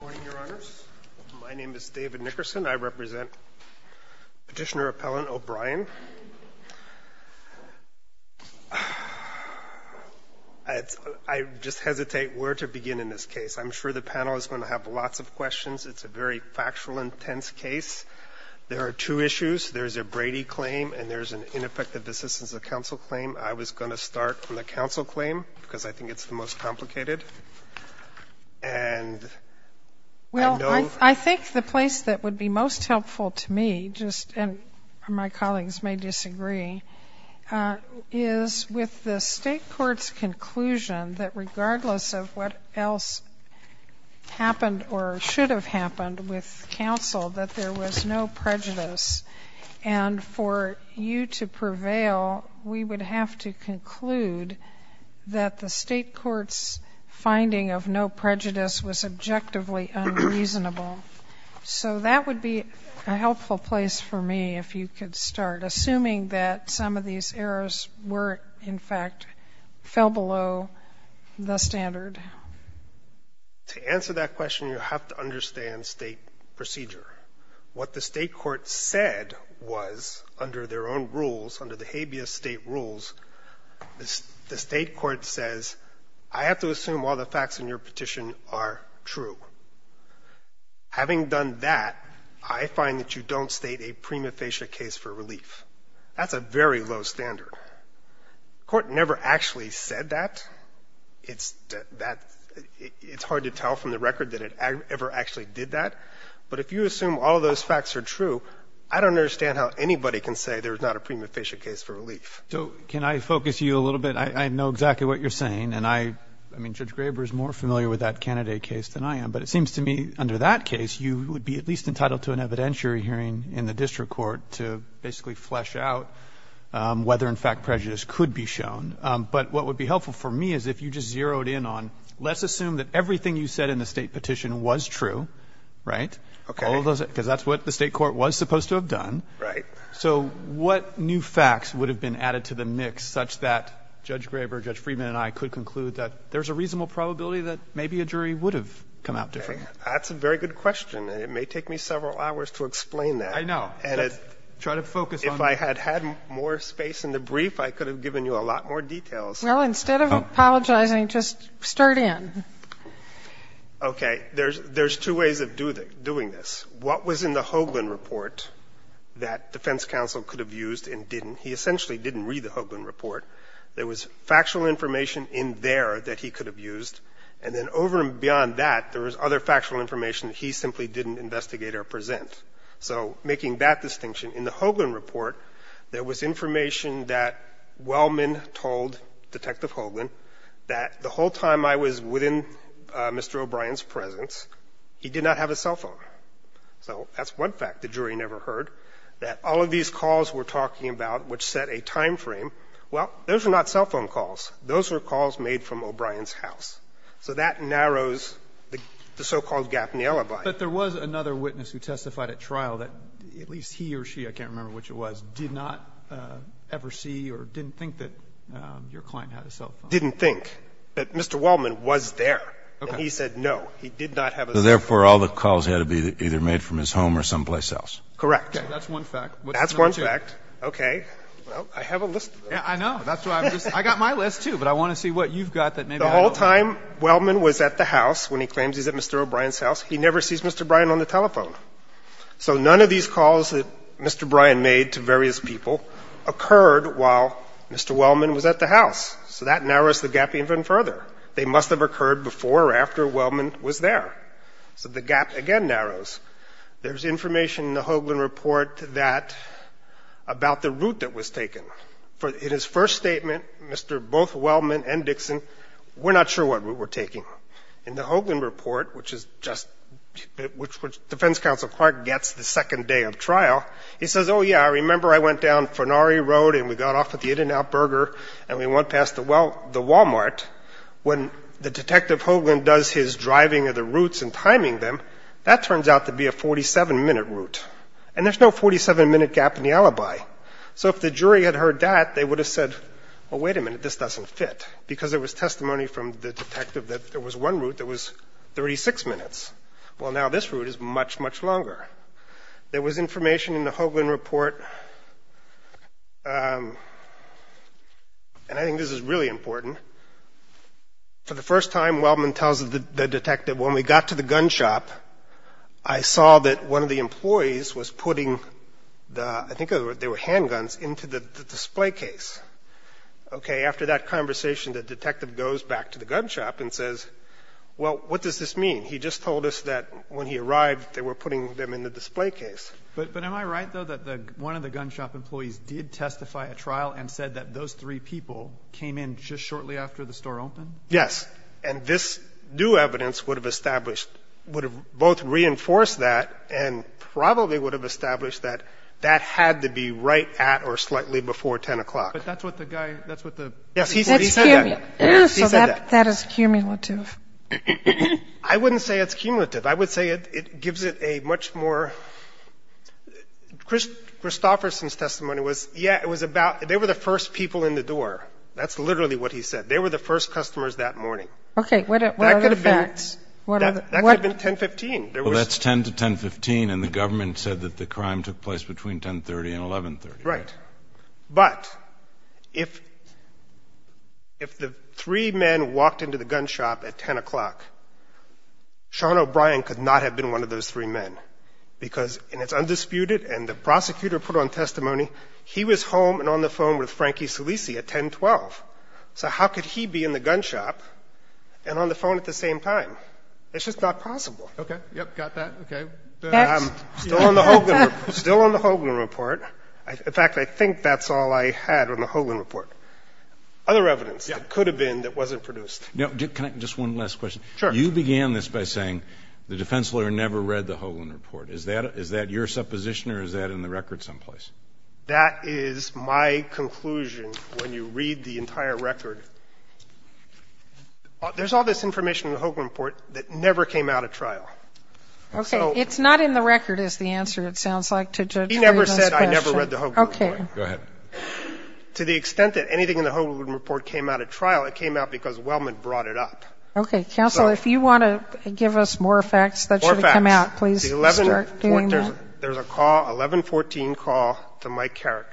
Good morning, Your Honors. My name is David Nickerson. I represent Petitioner-Appellant O'Brien. I just hesitate where to begin in this case. I'm sure the panel is going to have lots of questions. It's a very factual, intense case. There are two issues. There's a Brady claim and there's an ineffective assistance of counsel claim. I was going to start from the counsel claim because I think it's the most complicated. I think the place that would be most helpful to me, and my colleagues may disagree, is with the state court's conclusion that regardless of what else happened or should have happened with counsel, that there was no prejudice. And for you to prevail, we would have to conclude that the state court's finding of no prejudice was objectively unreasonable. So that would be a helpful place for me if you could start, assuming that some of these errors were, in fact, fell below the standard. To answer that question, you have to understand state procedure. What the state court said was, under their own rules, under the habeas state rules, the state court says, I have to assume all the facts in your petition are true. Having done that, I find that you don't state a prima facie case for relief. That's a very low standard. The court never actually said that. It's hard to tell from the record that it ever actually did that. But if you assume all those facts are true, I don't understand how anybody can say there's not a prima facie case for relief. So can I focus you a little bit? I know exactly what you're saying, and I mean, Judge Graber is more familiar with that candidate case than I am. But it seems to me under that case, you would be at least entitled to an evidentiary hearing in the district court to basically flesh out whether, in fact, prejudice could be shown. But what would be helpful for me is if you just zeroed in on, let's assume that everything you said in the state petition was true, right? Okay. Because that's what the state court was supposed to have done. Right. So what new facts would have been added to the mix such that Judge Graber, Judge Friedman, and I could conclude that there's a reasonable probability that maybe a jury would have come out different? That's a very good question. And it may take me several hours to explain that. I know. Try to focus on that. If I had had more space in the brief, I could have given you a lot more details. Well, instead of apologizing, just start in. Okay. There's two ways of doing this. What was in the Hoagland report that defense counsel could have used and didn't? He essentially didn't read the Hoagland report. There was factual information in there that he could have used. And then over and beyond that, there was other factual information that he simply didn't investigate or present. So making that distinction, in the Hoagland report, there was information that Wellman told Detective Hoagland that the whole time I was within Mr. O'Brien's presence, he did not have a cell phone. So that's one fact the jury never heard, that all of these calls we're talking about which set a timeframe, well, those are not cell phone calls. Those are calls made from O'Brien's house. So that narrows the so-called gap in the alibi. But there was another witness who testified at trial that at least he or she, I can't remember which it was, did not ever see or didn't think that your client had a cell phone. Didn't think. But Mr. Wellman was there. And he said no. He did not have a cell phone. So therefore, all the calls had to be either made from his home or someplace else. Correct. That's one fact. That's one fact. Okay. Well, I have a list of them. I know. I got my list, too, but I want to see what you've got that maybe I don't. The whole time Wellman was at the house, when he claims he's at Mr. O'Brien's house, he never sees Mr. O'Brien on the telephone. So none of these calls that Mr. O'Brien made to various people occurred while Mr. Wellman was at the house. So that narrows the gap even further. They must have occurred before or after Wellman was there. So the gap again narrows. There's information in the Hoagland Report that about the route that was taken. In his first statement, Mr. both Wellman and Dixon, we're not sure what route we're taking. In the Hoagland Report, which Defense Counsel Clark gets the second day of trial, he says, oh, yeah, I remember I went down Farnari Road and we got off at the In-N-Out Burger and we went past the Walmart. When the detective Hoagland does his driving of the routes and timing them, that turns out to be a 47-minute route, and there's no 47-minute gap in the alibi. So if the jury had heard that, they would have said, well, wait a minute, this doesn't fit, because there was testimony from the detective that there was one route that was 36 minutes. Well, now this route is much, much longer. There was information in the Hoagland Report, and I think this is really important. For the first time, Wellman tells the detective, when we got to the gun shop, I saw that one of the employees was putting the, I think they were handguns, into the display case. Okay, after that conversation, the detective goes back to the gun shop and says, well, what does this mean? He just told us that when he arrived, they were putting them in the display case. But am I right, though, that one of the gun shop employees did testify at trial and said that those three people came in just shortly after the store opened? Yes, and this new evidence would have established, would have both reinforced that and probably would have established that that had to be right at or slightly before 10 o'clock. But that's what the guy, that's what the Yes, he said that. So that is cumulative. I wouldn't say it's cumulative. I would say it gives it a much more, Christofferson's testimony was, yeah, it was about, they were the first people in the door. That's literally what he said. They were the first customers that morning. Okay, what are the facts? That could have been 10-15. Well, that's 10 to 10-15, and the government said that the crime took place between 10-30 and 11-30. Right. But if the three men walked into the gun shop at 10 o'clock, Sean O'Brien could not have been one of those three men because, and it's undisputed, and the prosecutor put on testimony, he was home and on the phone with Frankie Solisi at 10-12. So how could he be in the gun shop and on the phone at the same time? It's just not possible. Okay, yep, got that. Okay. Facts. Still on the Hogan report. In fact, I think that's all I had on the Hogan report. Other evidence that could have been that wasn't produced. Can I ask just one last question? Sure. You began this by saying the defense lawyer never read the Hogan report. Is that your supposition or is that in the record someplace? That is my conclusion when you read the entire record. There's all this information in the Hogan report that never came out of trial. I never said I never read the Hogan report. Okay. Go ahead. To the extent that anything in the Hogan report came out of trial, it came out because Wellman brought it up. Okay. Counsel, if you want to give us more facts that should have come out, please start doing that. There's a call, 11-14 call to Mike Carrick.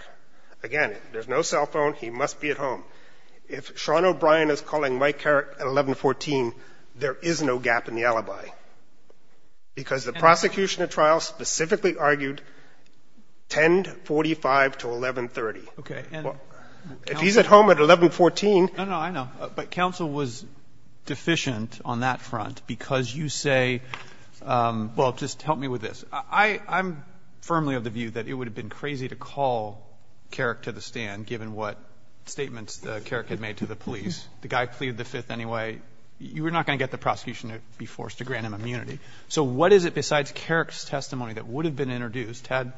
Again, there's no cell phone. He must be at home. If Sean O'Brien is calling Mike Carrick at 11-14, there is no gap in the alibi because the prosecution at trial specifically argued 10-45 to 11-30. Okay. If he's at home at 11-14. No, no, I know. But counsel was deficient on that front because you say well, just help me with this. I'm firmly of the view that it would have been crazy to call Carrick to the stand given what statements Carrick had made to the police. The guy pleaded the Fifth anyway. You were not going to get the prosecution to be forced to grant him immunity. So what is it besides Carrick's testimony that would have been introduced had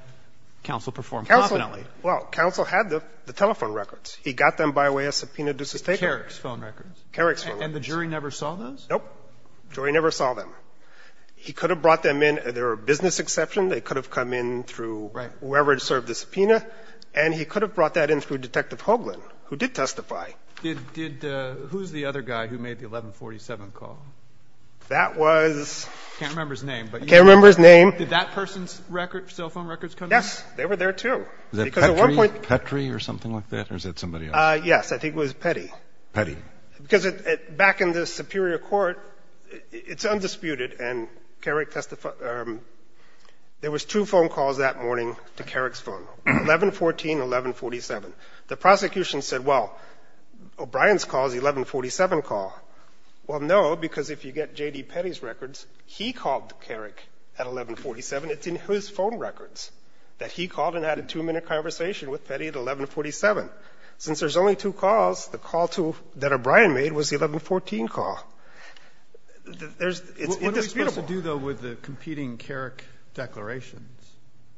counsel performed confidently? Counsel, well, counsel had the telephone records. He got them by way of subpoena due sustainment. Carrick's phone records. Carrick's phone records. And the jury never saw those? Nope. The jury never saw them. He could have brought them in. They were a business exception. They could have come in through whoever had served the subpoena. And he could have brought that in through Detective Hoagland, who did testify. Who's the other guy who made the 11-47 call? That was... I can't remember his name. I can't remember his name. Did that person's cell phone records come in? Yes. They were there, too. Was that Petrie or something like that, or is that somebody else? Yes. I think it was Petrie. Petrie. Because back in the Superior Court, it's undisputed, and Carrick testified... There was two phone calls that morning to Carrick's phone, 11-14, 11-47. The prosecution said, well, O'Brien's call is the 11-47 call. Well, no, because if you get J.D. Petrie's records, he called Carrick at 11-47. It's in his phone records that he called and had a two-minute conversation with Petrie at 11-47. Since there's only two calls, the call that O'Brien made was the 11-14 call. It's indisputable. What are we supposed to do, though, with the competing Carrick declarations?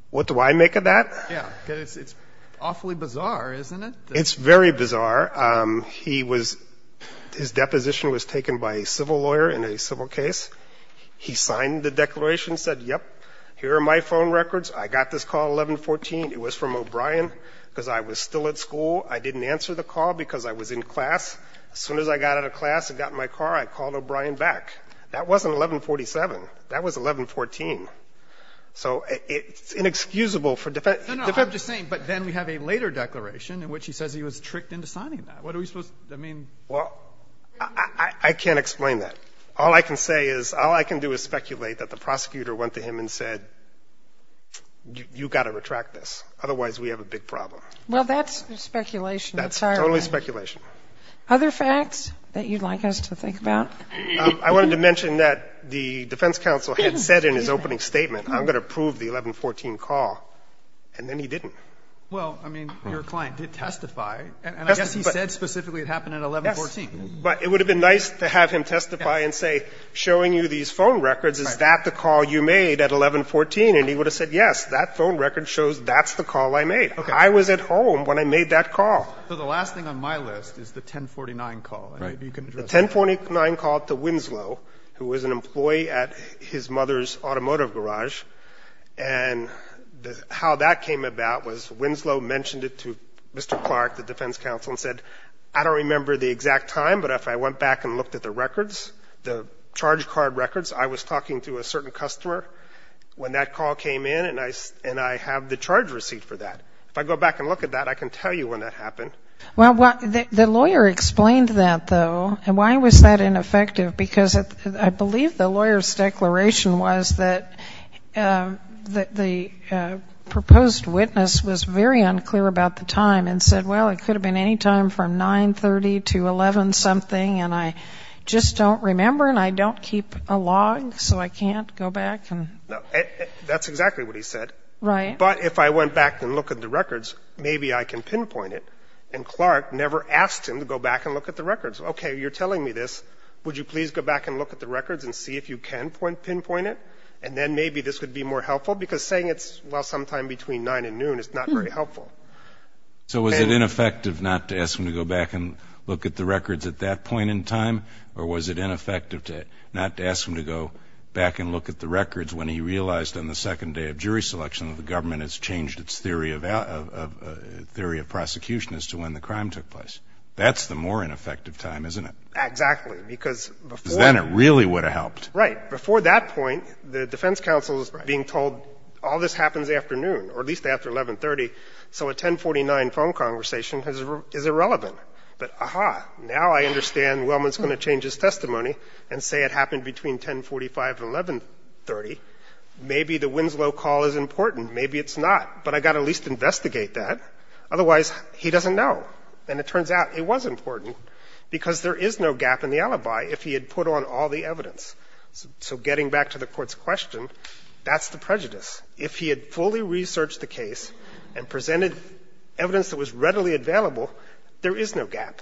What do I make of that? Yes, because it's awfully bizarre, isn't it? It's very bizarre. He was — his deposition was taken by a civil lawyer in a civil case. He signed the declaration, said, yep, here are my phone records. I got this call at 11-14. It was from O'Brien because I was still at school. I didn't answer the call because I was in class. As soon as I got out of class and got in my car, I called O'Brien back. That wasn't 11-47. That was 11-14. So it's inexcusable for defense... Well, I can't explain that. All I can say is all I can do is speculate that the prosecutor went to him and said, you've got to retract this, otherwise we have a big problem. Well, that's speculation. That's totally speculation. Other facts that you'd like us to think about? I wanted to mention that the defense counsel had said in his opening statement, I'm going to prove the 11-14 call, and then he didn't. Well, I mean, your client did testify. And I guess he said specifically it happened at 11-14. But it would have been nice to have him testify and say, showing you these phone records, is that the call you made at 11-14? And he would have said, yes, that phone record shows that's the call I made. I was at home when I made that call. So the last thing on my list is the 10-49 call. The 10-49 call to Winslow, who was an employee at his mother's automotive garage. And how that came about was Winslow mentioned it to Mr. Clark, the defense counsel, and said, I don't remember the exact time, but if I went back and looked at the records, the charge card records, I was talking to a certain customer when that call came in, and I have the charge receipt for that. If I go back and look at that, I can tell you when that happened. Well, the lawyer explained that, though. And why was that ineffective? Because I believe the lawyer's declaration was that the proposed witness was very unclear about the time and said, well, it could have been any time from 9-30 to 11-something, and I just don't remember and I don't keep a log, so I can't go back. No, that's exactly what he said. Right. But if I went back and looked at the records, maybe I can pinpoint it. Okay, you're telling me this. Would you please go back and look at the records and see if you can pinpoint it? And then maybe this would be more helpful, because saying it's, well, sometime between 9 and noon is not very helpful. So was it ineffective not to ask him to go back and look at the records at that point in time, or was it ineffective not to ask him to go back and look at the records when he realized on the second day of jury selection that the government has changed its theory of prosecution as to when the crime took place? That's the more ineffective time, isn't it? Exactly. Because before. Because then it really would have helped. Right. Before that point, the defense counsel is being told all this happens afternoon, or at least after 11-30, so a 10-49 phone conversation is irrelevant. But, aha, now I understand Wellman's going to change his testimony and say it happened between 10-45 and 11-30. Maybe the Winslow call is important. Maybe it's not. But I've got to at least investigate that. Otherwise, he doesn't know. And it turns out it was important because there is no gap in the alibi if he had put on all the evidence. So getting back to the Court's question, that's the prejudice. If he had fully researched the case and presented evidence that was readily available, there is no gap.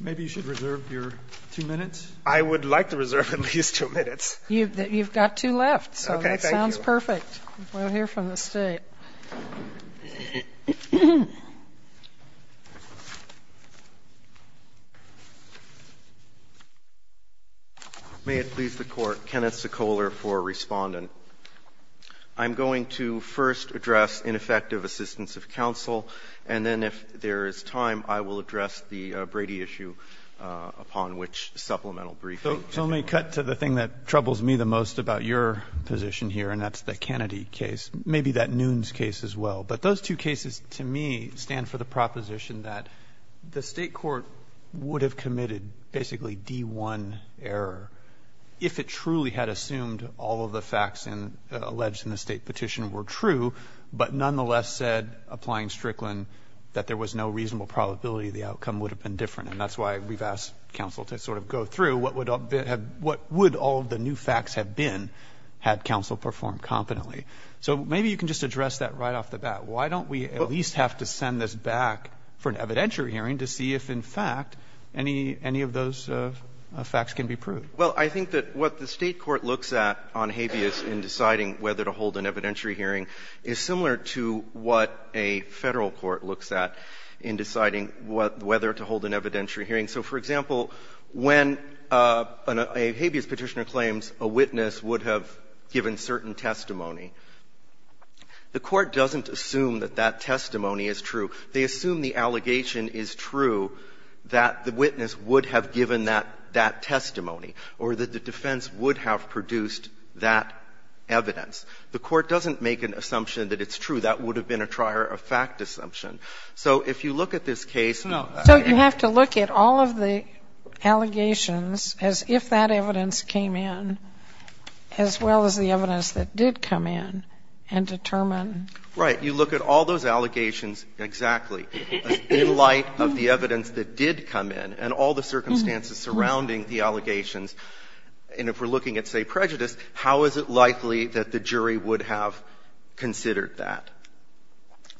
Maybe you should reserve your two minutes. I would like to reserve at least two minutes. You've got two left. Okay. Thank you. So that sounds perfect. We'll hear from the State. May it please the Court. Kenneth Sekoler for Respondent. I'm going to first address ineffective assistance of counsel, and then if there is time, I will address the Brady issue upon which supplemental briefing. So let me cut to the thing that troubles me the most about your position here, and that's the Kennedy case. Maybe that Nunes case as well. But those two cases, to me, stand for the proposition that the State court would have committed basically D-1 error if it truly had assumed all of the facts alleged in the State petition were true, but nonetheless said, applying Strickland, that there was no reasonable probability the outcome would have been different. And that's why we've asked counsel to sort of go through what would all the new So maybe you can just address that right off the bat. Why don't we at least have to send this back for an evidentiary hearing to see if, in fact, any of those facts can be proved? Well, I think that what the State court looks at on habeas in deciding whether to hold an evidentiary hearing is similar to what a Federal court looks at in deciding whether to hold an evidentiary hearing. So, for example, when a habeas petitioner claims a witness would have given certain testimony, the court doesn't assume that that testimony is true. They assume the allegation is true, that the witness would have given that testimony or that the defense would have produced that evidence. The court doesn't make an assumption that it's true. That would have been a trier-of-fact assumption. So if you look at this case and you have to look at all of the allegations as if that evidence came in, as well as the evidence that did come in, and determine Right. You look at all those allegations exactly in light of the evidence that did come in and all the circumstances surrounding the allegations. And if we're looking at, say, prejudice, how is it likely that the jury would have considered that?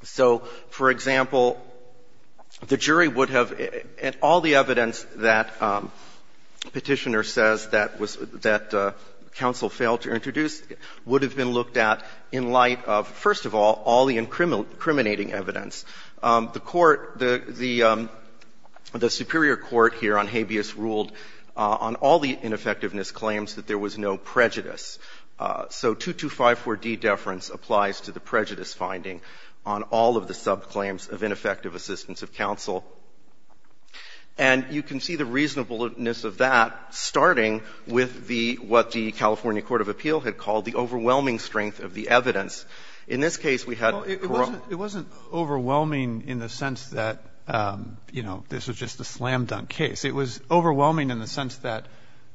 So, for example, the jury would have at all the evidence that Petitioner says that was that counsel failed to introduce would have been looked at in light of, first of all, all the incriminating evidence. The court, the superior court here on habeas ruled on all the ineffectiveness claims that there was no prejudice. So 2254d deference applies to the prejudice finding on all of the subclaims of ineffective assistance of counsel. And you can see the reasonableness of that starting with the what the California court of appeal had called the overwhelming strength of the evidence. In this case, we had. It wasn't overwhelming in the sense that, you know, this was just a slam dunk case. It was overwhelming in the sense that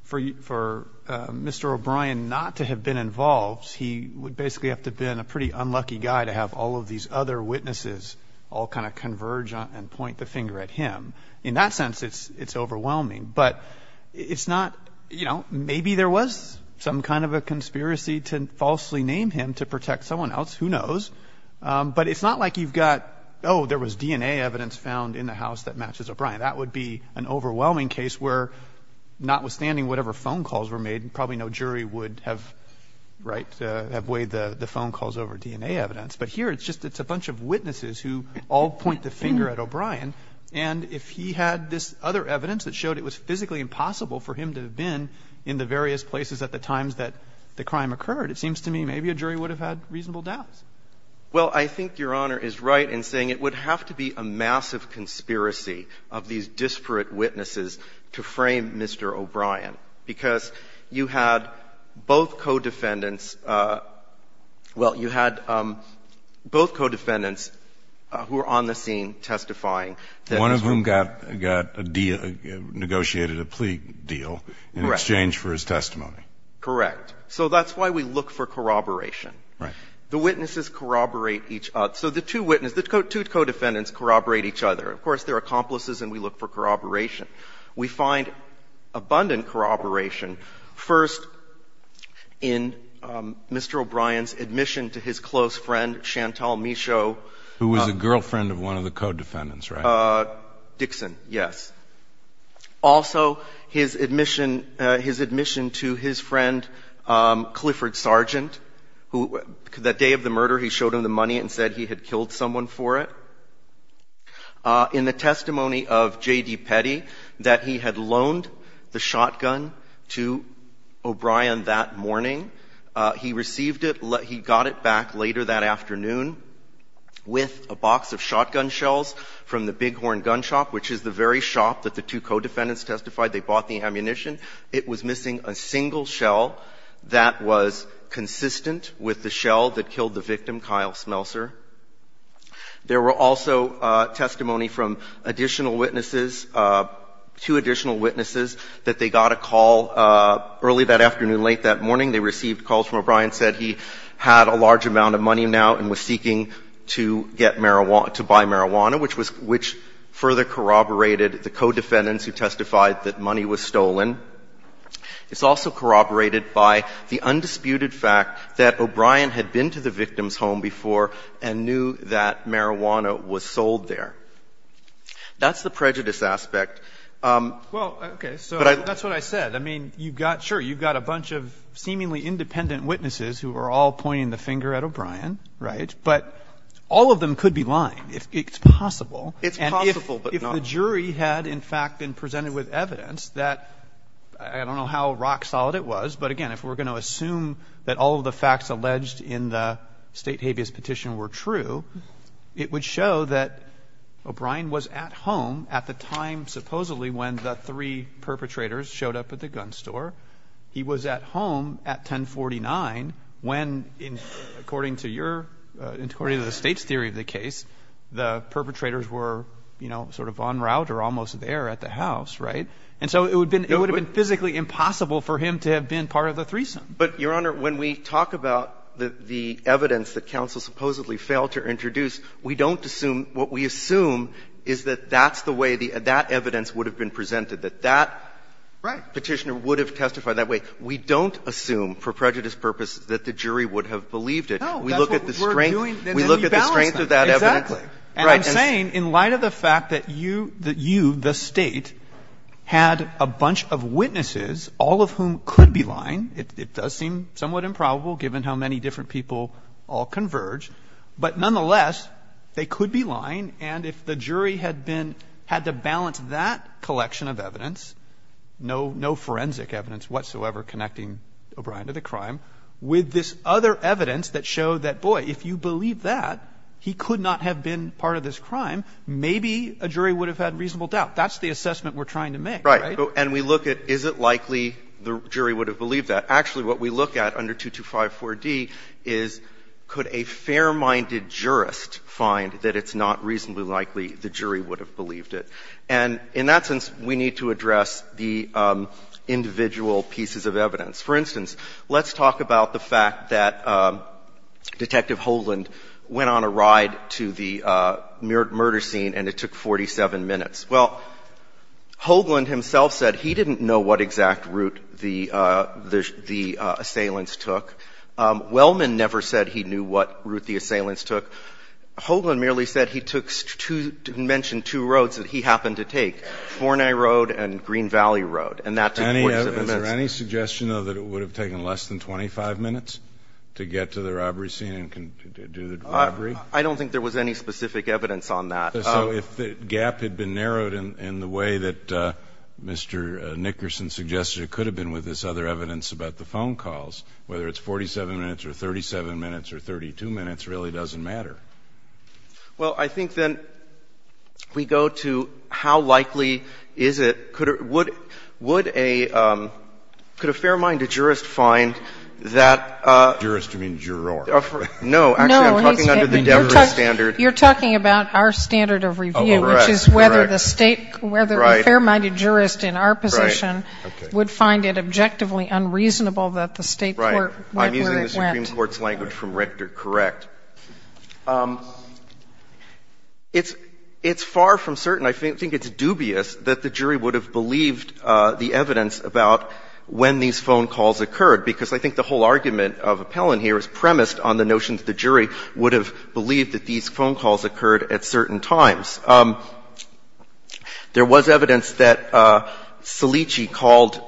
for Mr. O'Brien not to have been involved, he would basically have to have been a pretty unlucky guy to have all of these other witnesses all kind of converge and point the finger at him. In that sense, it's overwhelming. But it's not, you know, maybe there was some kind of a conspiracy to falsely name him to protect someone else. Who knows? But it's not like you've got, oh, there was DNA evidence found in the house that matches O'Brien. That would be an overwhelming case where notwithstanding whatever phone calls were made, probably no jury would have weighed the phone calls over DNA evidence. But here it's just a bunch of witnesses who all point the finger at O'Brien. And if he had this other evidence that showed it was physically impossible for him to have been in the various places at the times that the crime occurred, it seems to me maybe a jury would have had reasonable doubts. Well, I think Your Honor is right in saying it would have to be a massive conspiracy of these disparate witnesses to frame Mr. O'Brien. Because you had both co-defendants, well, you had both co-defendants who were on the scene testifying. One of whom got a deal, negotiated a plea deal in exchange for his testimony. Correct. So that's why we look for corroboration. Right. The witnesses corroborate each other. So the two witnesses, the two co-defendants corroborate each other. Of course, they're accomplices and we look for corroboration. We find abundant corroboration, first, in Mr. O'Brien's admission to his close friend, Chantal Michaud. Who was a girlfriend of one of the co-defendants, right? Dixon, yes. Also, his admission to his friend, Clifford Sargent, who that day of the murder he showed him the money and said he had killed someone for it. In the testimony of J.D. Petty, that he had loaned the shotgun to O'Brien that morning, he received it, he got it back later that afternoon with a box of shotgun shells from the Bighorn Gun Shop, which is the very shop that the two co-defendants testified. They bought the ammunition. It was missing a single shell that was consistent with the shell that killed the victim, Kyle Smelser. There were also testimony from additional witnesses, two additional witnesses that they got a call early that afternoon, late that morning. They received calls from O'Brien, said he had a large amount of money now and was seeking to get marijuana, to buy marijuana, which was, which further corroborated the co-defendants who testified that money was stolen. It's also corroborated by the undisputed fact that O'Brien had been to the victim's home before and knew that marijuana was sold there. That's the prejudice aspect. But I don't know. But that's what I said. I mean, you've got, sure, you've got a bunch of seemingly independent witnesses who are all pointing the finger at O'Brien, right? But all of them could be lying. It's possible. It's possible, but not. And if the jury had, in fact, been presented with evidence that, I don't know how rock-solid it was, but again, if we're going to assume that all of the facts alleged in the State habeas petition were true, it would show that O'Brien was at home at the time supposedly when the three perpetrators showed up at the gun store. He was at home at 1049 when, according to your, according to the State's theory of the case, the perpetrators were, you know, sort of en route or almost there at the house, right? And so it would have been physically impossible for him to have been part of the threesome. But, Your Honor, when we talk about the evidence that counsel supposedly failed to introduce, we don't assume what we assume is that that's the way the evidence would have been presented, that that petitioner would have testified that way. We don't assume for prejudice purposes that the jury would have believed it. We look at the strength. We look at the strength of that evidence. And I'm saying, in light of the fact that you, the State, had a bunch of witnesses, all of whom could be lying. It does seem somewhat improbable, given how many different people all converge. But nonetheless, they could be lying. And if the jury had been, had to balance that collection of evidence, no forensic evidence whatsoever connecting O'Brien to the crime, with this other evidence that showed that, boy, if you believe that, he could not have been part of this crime, maybe a jury would have had reasonable doubt. That's the assessment we're trying to make, right? And we look at, is it likely the jury would have believed that? Actually, what we look at under 2254d is, could a fair-minded jurist find that it's not reasonably likely the jury would have believed it? And in that sense, we need to address the individual pieces of evidence. For instance, let's talk about the fact that Detective Hoagland went on a ride to the murder scene and it took 47 minutes. Well, Hoagland himself said he didn't know what exact route the assailants took. Wellman never said he knew what route the assailants took. Hoagland merely said he took two, mentioned two roads that he happened to take, Forney Road and Green Valley Road, and that took 47 minutes. Is there any suggestion, though, that it would have taken less than 25 minutes to get to the robbery scene and do the robbery? I don't think there was any specific evidence on that. So if the gap had been narrowed in the way that Mr. Nickerson suggested it could have been with this other evidence about the phone calls, whether it's 47 minutes or 37 minutes or 32 minutes really doesn't matter. Well, I think then we go to how likely is it, could a fair-minded jurist find that Jurist, you mean juror? No. Actually, I'm talking under the Denver standard. You're talking about our standard of review, which is whether the State, whether a fair-minded jurist in our position would find it objectively unreasonable that the State court went where it went. Right. I'm using the Supreme Court's language from Richter, correct. It's far from certain. I think it's dubious that the jury would have believed the evidence about when these phone calls occurred, because I think the whole argument of Appellant here is premised on the notion that the jury would have believed that these phone calls occurred at certain times. There was evidence that Cellicci called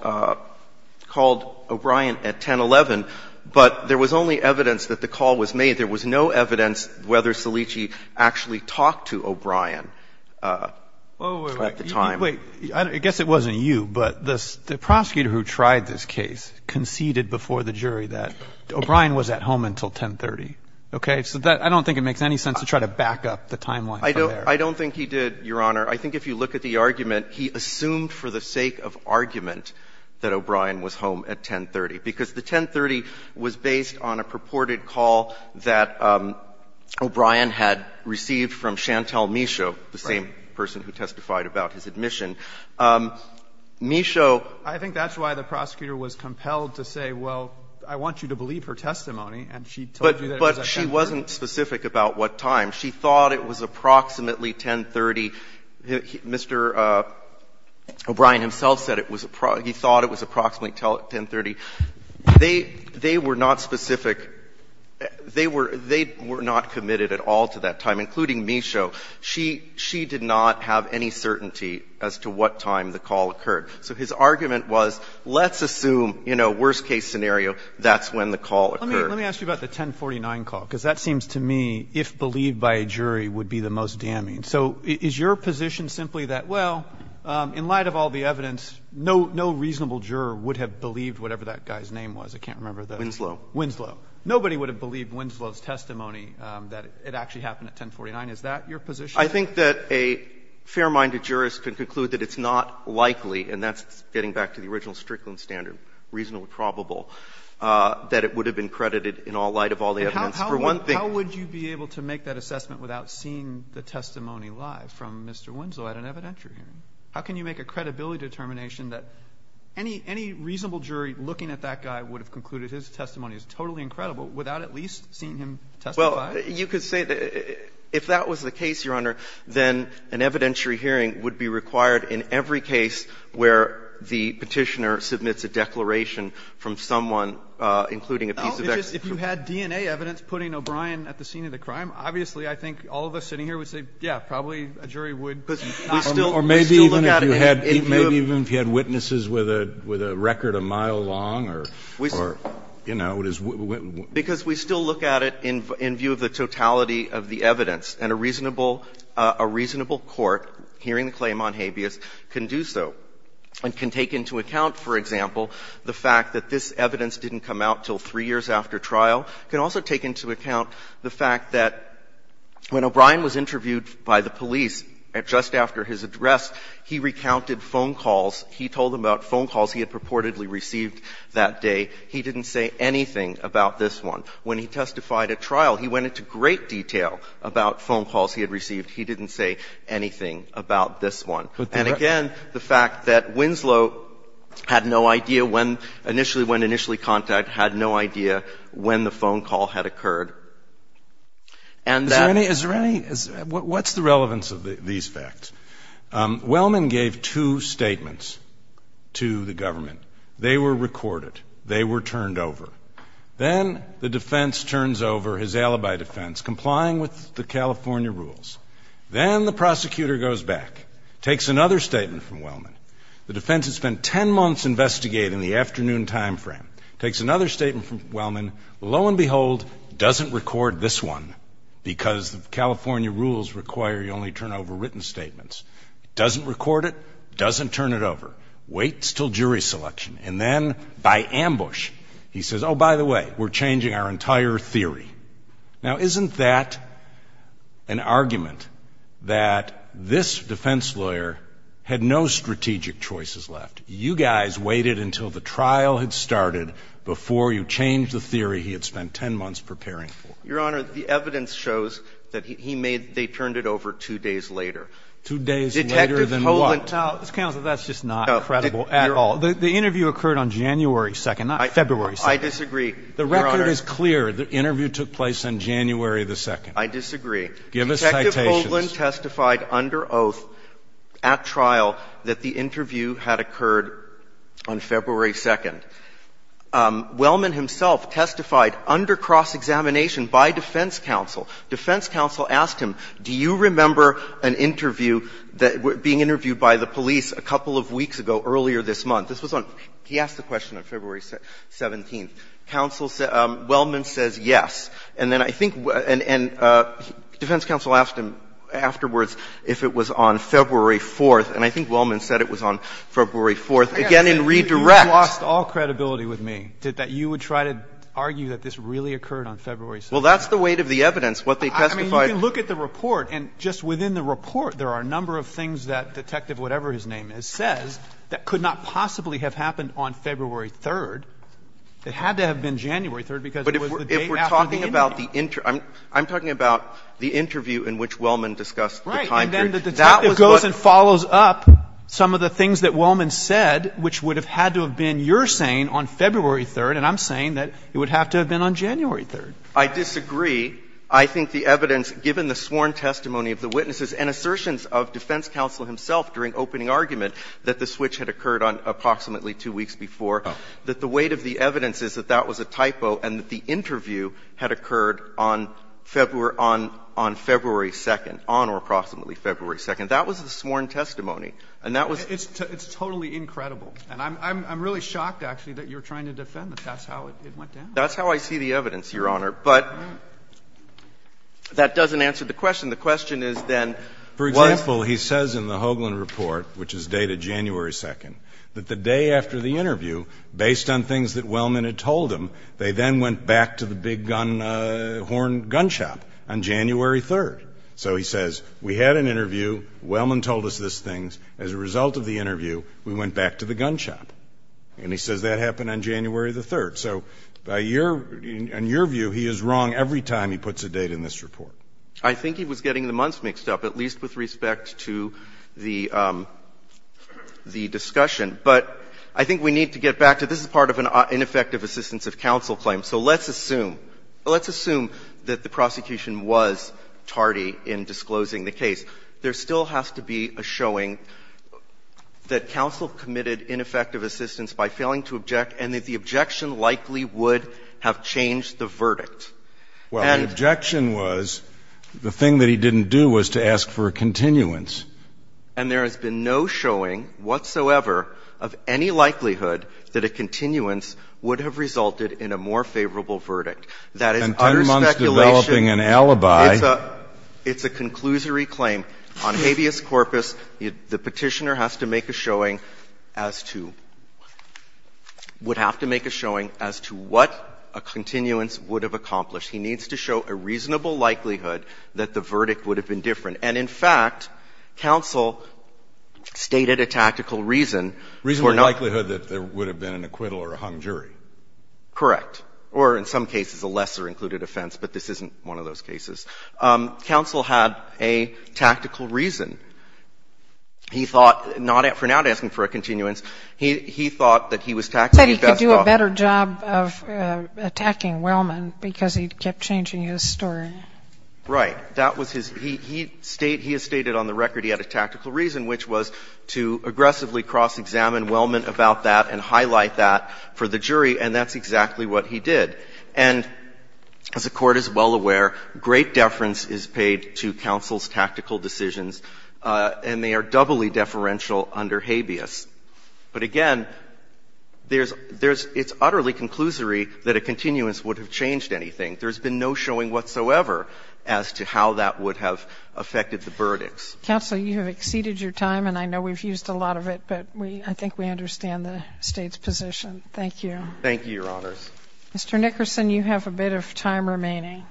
O'Brien at 1011, but there was only evidence that the call was made. There was no evidence whether Cellicci actually talked to O'Brien at the time. Wait. I guess it wasn't you, but the prosecutor who tried this case conceded before the jury that O'Brien was at home until 1030. Okay? So I don't think it makes any sense to try to back up the timeline from there. I don't think he did, Your Honor. I think if you look at the argument, he assumed for the sake of argument that O'Brien was home at 1030, because the 1030 was based on a purported call that O'Brien had received from Chantal Michaud, the same person who testified about his admission. Michaud. I think that's why the prosecutor was compelled to say, well, I want you to believe her testimony, and she told you that it was at 1030. But she wasn't specific about what time. She thought it was approximately 1030. Mr. O'Brien himself said it was he thought it was approximately 1030. They were not specific. They were not committed at all to that time, including Michaud. She did not have any certainty as to what time the call occurred. So his argument was, let's assume, you know, worst case scenario, that's when the call occurred. Let me ask you about the 1049 call, because that seems to me, if believed by a jury, would be the most damning. So is your position simply that, well, in light of all the evidence, no reasonable juror would have believed whatever that guy's name was? I can't remember the name. Winslow. Winslow. Nobody would have believed Winslow's testimony that it actually happened at 1049. Is that your position? I think that a fair-minded jurist could conclude that it's not likely, and that's getting back to the original Strickland standard, reasonably probable, that it would have been credited in all light of all the evidence, for one thing. But how would you be able to make that assessment without seeing the testimony live from Mr. Winslow at an evidentiary hearing? How can you make a credibility determination that any reasonable jury looking at that guy would have concluded his testimony was totally incredible without at least seeing him testify? Well, you could say that if that was the case, Your Honor, then an evidentiary hearing would be required in every case where the Petitioner submits a declaration from someone, including a piece of evidence. Well, if you had DNA evidence putting O'Brien at the scene of the crime, obviously I think all of us sitting here would say, yeah, probably a jury would. Or maybe even if you had witnesses with a record a mile long or, you know, it is. Because we still look at it in view of the totality of the evidence. And a reasonable court hearing the claim on habeas can do so and can take into account, for example, the fact that this evidence didn't come out until 3 years after trial. It can also take into account the fact that when O'Brien was interviewed by the police just after his address, he recounted phone calls. He told them about phone calls he had purportedly received that day. He didn't say anything about this one. When he testified at trial, he went into great detail about phone calls he had received. He didn't say anything about this one. And again, the fact that Winslow had no idea when initially, when initially contacted, had no idea when the phone call had occurred. And that ---- Is there any, is there any, what's the relevance of these facts? Wellman gave two statements to the government. They were recorded. They were turned over. Then the defense turns over his alibi defense, complying with the California rules. Then the prosecutor goes back, takes another statement from Wellman. The defense has spent 10 months investigating the afternoon time frame. Takes another statement from Wellman. Lo and behold, doesn't record this one because the California rules require you only turn over written statements. Doesn't record it. Doesn't turn it over. Waits until jury selection. And then, by ambush, he says, oh, by the way, we're changing our entire theory. Now, isn't that an argument that this defense lawyer had no strategic choices left? You guys waited until the trial had started before you changed the theory he had spent 10 months preparing for. Your Honor, the evidence shows that he made, they turned it over two days later. Two days later than what? That's just not credible at all. The interview occurred on January 2nd, not February 2nd. I disagree, Your Honor. The record is clear. The interview took place on January 2nd. I disagree. Give us citations. Detective Hoagland testified under oath at trial that the interview had occurred on February 2nd. Wellman himself testified under cross-examination by defense counsel. Defense counsel asked him, do you remember an interview being interviewed by the police a couple of weeks ago earlier this month? This was on, he asked the question on February 17th. Counsel said, Wellman says yes. And then I think, and defense counsel asked him afterwards if it was on February 4th. And I think Wellman said it was on February 4th. Again, in redirect. You lost all credibility with me, that you would try to argue that this really occurred on February 17th. Well, that's the weight of the evidence. What they testified. I mean, you can look at the report, and just within the report, there are a number of things that Detective whatever-his-name-is says that could not possibly have happened on February 3rd. It had to have been January 3rd because it was the date after the interview. But if we're talking about the interview, I'm talking about the interview in which Wellman discussed the time period. Right. And then the detective goes and follows up some of the things that Wellman said, which would have had to have been your saying on February 3rd, and I'm saying that it would have to have been on January 3rd. I disagree. I think the evidence, given the sworn testimony of the witnesses and assertions of defense counsel himself during opening argument that the switch had occurred on approximately two weeks before, that the weight of the evidence is that that was a typo and that the interview had occurred on February 2nd, on or approximately February 2nd. That was the sworn testimony. And that was It's totally incredible. And I'm really shocked, actually, that you're trying to defend that. That's how it went down. That's how I see the evidence, Your Honor. But that doesn't answer the question. The question is then what For example, he says in the Hoagland report, which is dated January 2nd, that the day after the interview, based on things that Wellman had told him, they then went back to the big gun horn gun shop on January 3rd. So he says, we had an interview. Wellman told us these things. As a result of the interview, we went back to the gun shop. And he says that happened on January the 3rd. So by your – in your view, he is wrong every time he puts a date in this report. I think he was getting the months mixed up, at least with respect to the discussion. But I think we need to get back to this is part of an ineffective assistance of counsel claim. So let's assume, let's assume that the prosecution was tardy in disclosing the case. There still has to be a showing that counsel committed ineffective assistance by failing to object, and that the objection likely would have changed the verdict. And Well, the objection was the thing that he didn't do was to ask for a continuance. And there has been no showing whatsoever of any likelihood that a continuance would have resulted in a more favorable verdict. That is utter speculation. And 10 months developing an alibi. It's a – it's a conclusory claim. On habeas corpus, the Petitioner has to make a showing as to – would have to make a showing as to what a continuance would have accomplished. He needs to show a reasonable likelihood that the verdict would have been different. And in fact, counsel stated a tactical reason for not – Reasonable likelihood that there would have been an acquittal or a hung jury. Correct. Or in some cases, a lesser included offense, but this isn't one of those cases. Counsel had a tactical reason. He thought not – for not asking for a continuance, he thought that he was – He said he could do a better job of attacking Wellman because he kept changing his story. Right. That was his – he stated on the record he had a tactical reason, which was to aggressively cross-examine Wellman about that and highlight that for the jury, and that's exactly what he did. And as the Court is well aware, great deference is paid to counsel's tactical decisions, and they are doubly deferential under habeas. But again, there's – it's utterly conclusory that a continuance would have changed anything. There's been no showing whatsoever as to how that would have affected the verdicts. Counsel, you have exceeded your time, and I know we've used a lot of it, but we – I think we understand the State's position. Thank you. Thank you, Your Honors. Mr. Nickerson, you have a bit of time remaining.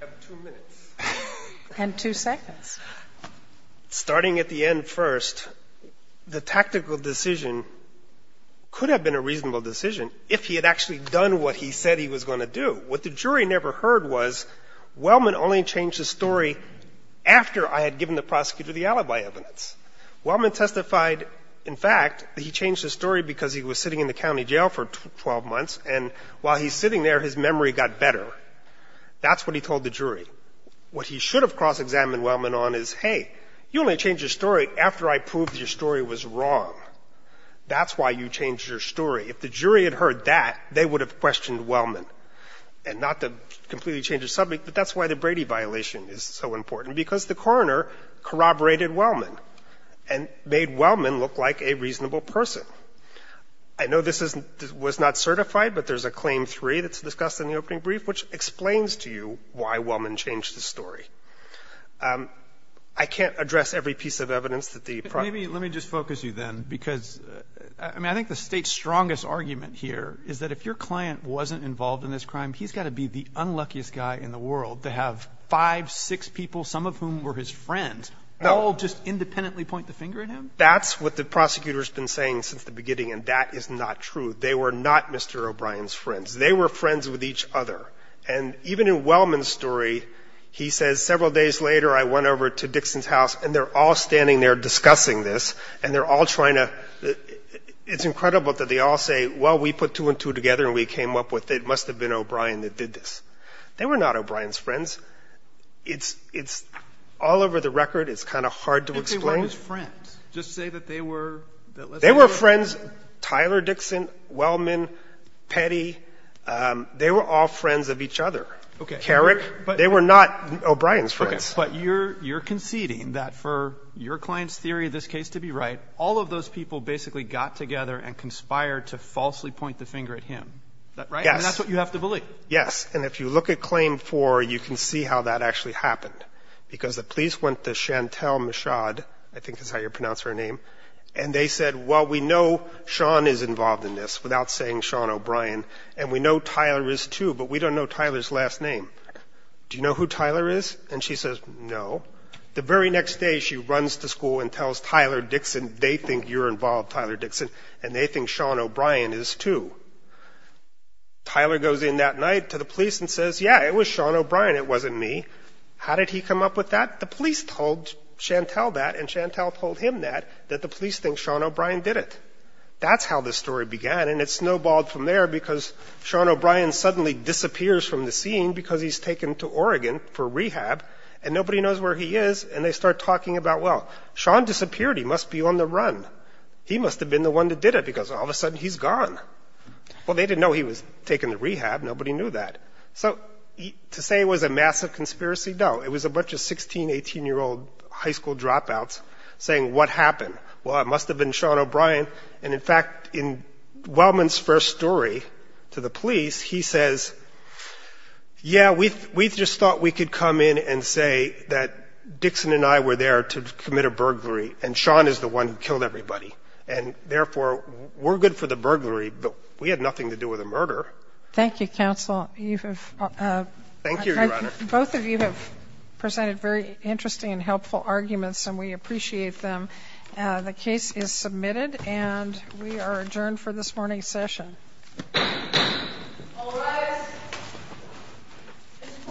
I have two minutes. And two seconds. Starting at the end first, the tactical decision could have been a reasonable decision if he had actually done what he said he was going to do. What the jury never heard was Wellman only changed his story after I had given the prosecutor the alibi evidence. Wellman testified, in fact, that he changed his story because he was sitting in the county jail for 12 months, and while he's sitting there, his memory got better. That's what he told the jury. What he should have cross-examined Wellman on is, hey, you only changed your story after I proved your story was wrong. That's why you changed your story. If the jury had heard that, they would have questioned Wellman. And not to completely change the subject, but that's why the Brady violation is so important, because the coroner corroborated Wellman and made Wellman look like a reasonable person. I know this was not certified, but there's a Claim 3 that's discussed in the opening brief, which explains to you why Wellman changed his story. I can't address every piece of evidence that the prosecutor used. Let me just focus you, then, because I mean, I think the State's strongest argument here is that if your client wasn't involved in this crime, he's got to be the unluckiest guy in the world to have five, six people, some of whom were his friends, all just independently point the finger at him? That's what the prosecutor's been saying since the beginning, and that is not true. They were not Mr. O'Brien's friends. They were friends with each other. And even in Wellman's story, he says, several days later, I went over to Dixon's house, and they're all standing there discussing this, and they're all trying to ‑‑ it's incredible that they all say, well, we put two and two together, and we came up with it. It must have been O'Brien that did this. They were not O'Brien's friends. It's all over the record. It's kind of hard to explain. But they weren't his friends. Just say that they were ‑‑ They were friends, Tyler Dixon, Wellman, Petty, they were all friends of each other. Carrick, they were not O'Brien's friends. Okay. But you're conceding that for your client's theory of this case to be right, all of those people basically got together and conspired to falsely point the finger at him, right? Yes. And that's what you have to believe. Yes. And if you look at Claim 4, you can see how that actually happened, because the police went to Chantel Michaud, I think is how you pronounce her name, and they said, well, we know Sean is involved in this, without saying Sean O'Brien, and we know Tyler is, too, but we don't know Tyler's last name. Do you know who Tyler is? And she says, no. The very next day she runs to school and tells Tyler Dixon they think you're involved, Tyler Dixon, and they think Sean O'Brien is, too. Tyler goes in that night to the police and says, yeah, it was Sean O'Brien, it wasn't me. How did he come up with that? The police told Chantel that, and Chantel told him that, that the police think Sean O'Brien did it. That's how this story began, and it snowballed from there because Sean O'Brien suddenly disappears from the scene because he's taken to Oregon for rehab, and nobody knows where he is, and they start talking about, well, Sean disappeared, he must be on the run. He must have been the one that did it, because all of a sudden he's gone. Well, they didn't know he was taken to rehab, nobody knew that. So to say it was a massive conspiracy, no. It was a bunch of 16-, 18-year-old high school dropouts saying, what happened? Well, it must have been Sean O'Brien. And, in fact, in Wellman's first story to the police, he says, yeah, we just thought we could come in and say that Dixon and I were there to commit a burglary, and Sean is the one who killed everybody. And, therefore, we're good for the burglary, but we had nothing to do with the murder. Thank you, counsel. Thank you, Your Honor. Both of you have presented very interesting and helpful arguments, and we The case is submitted, and we are adjourned for this morning's session. All rise. This court for this session stands adjourned.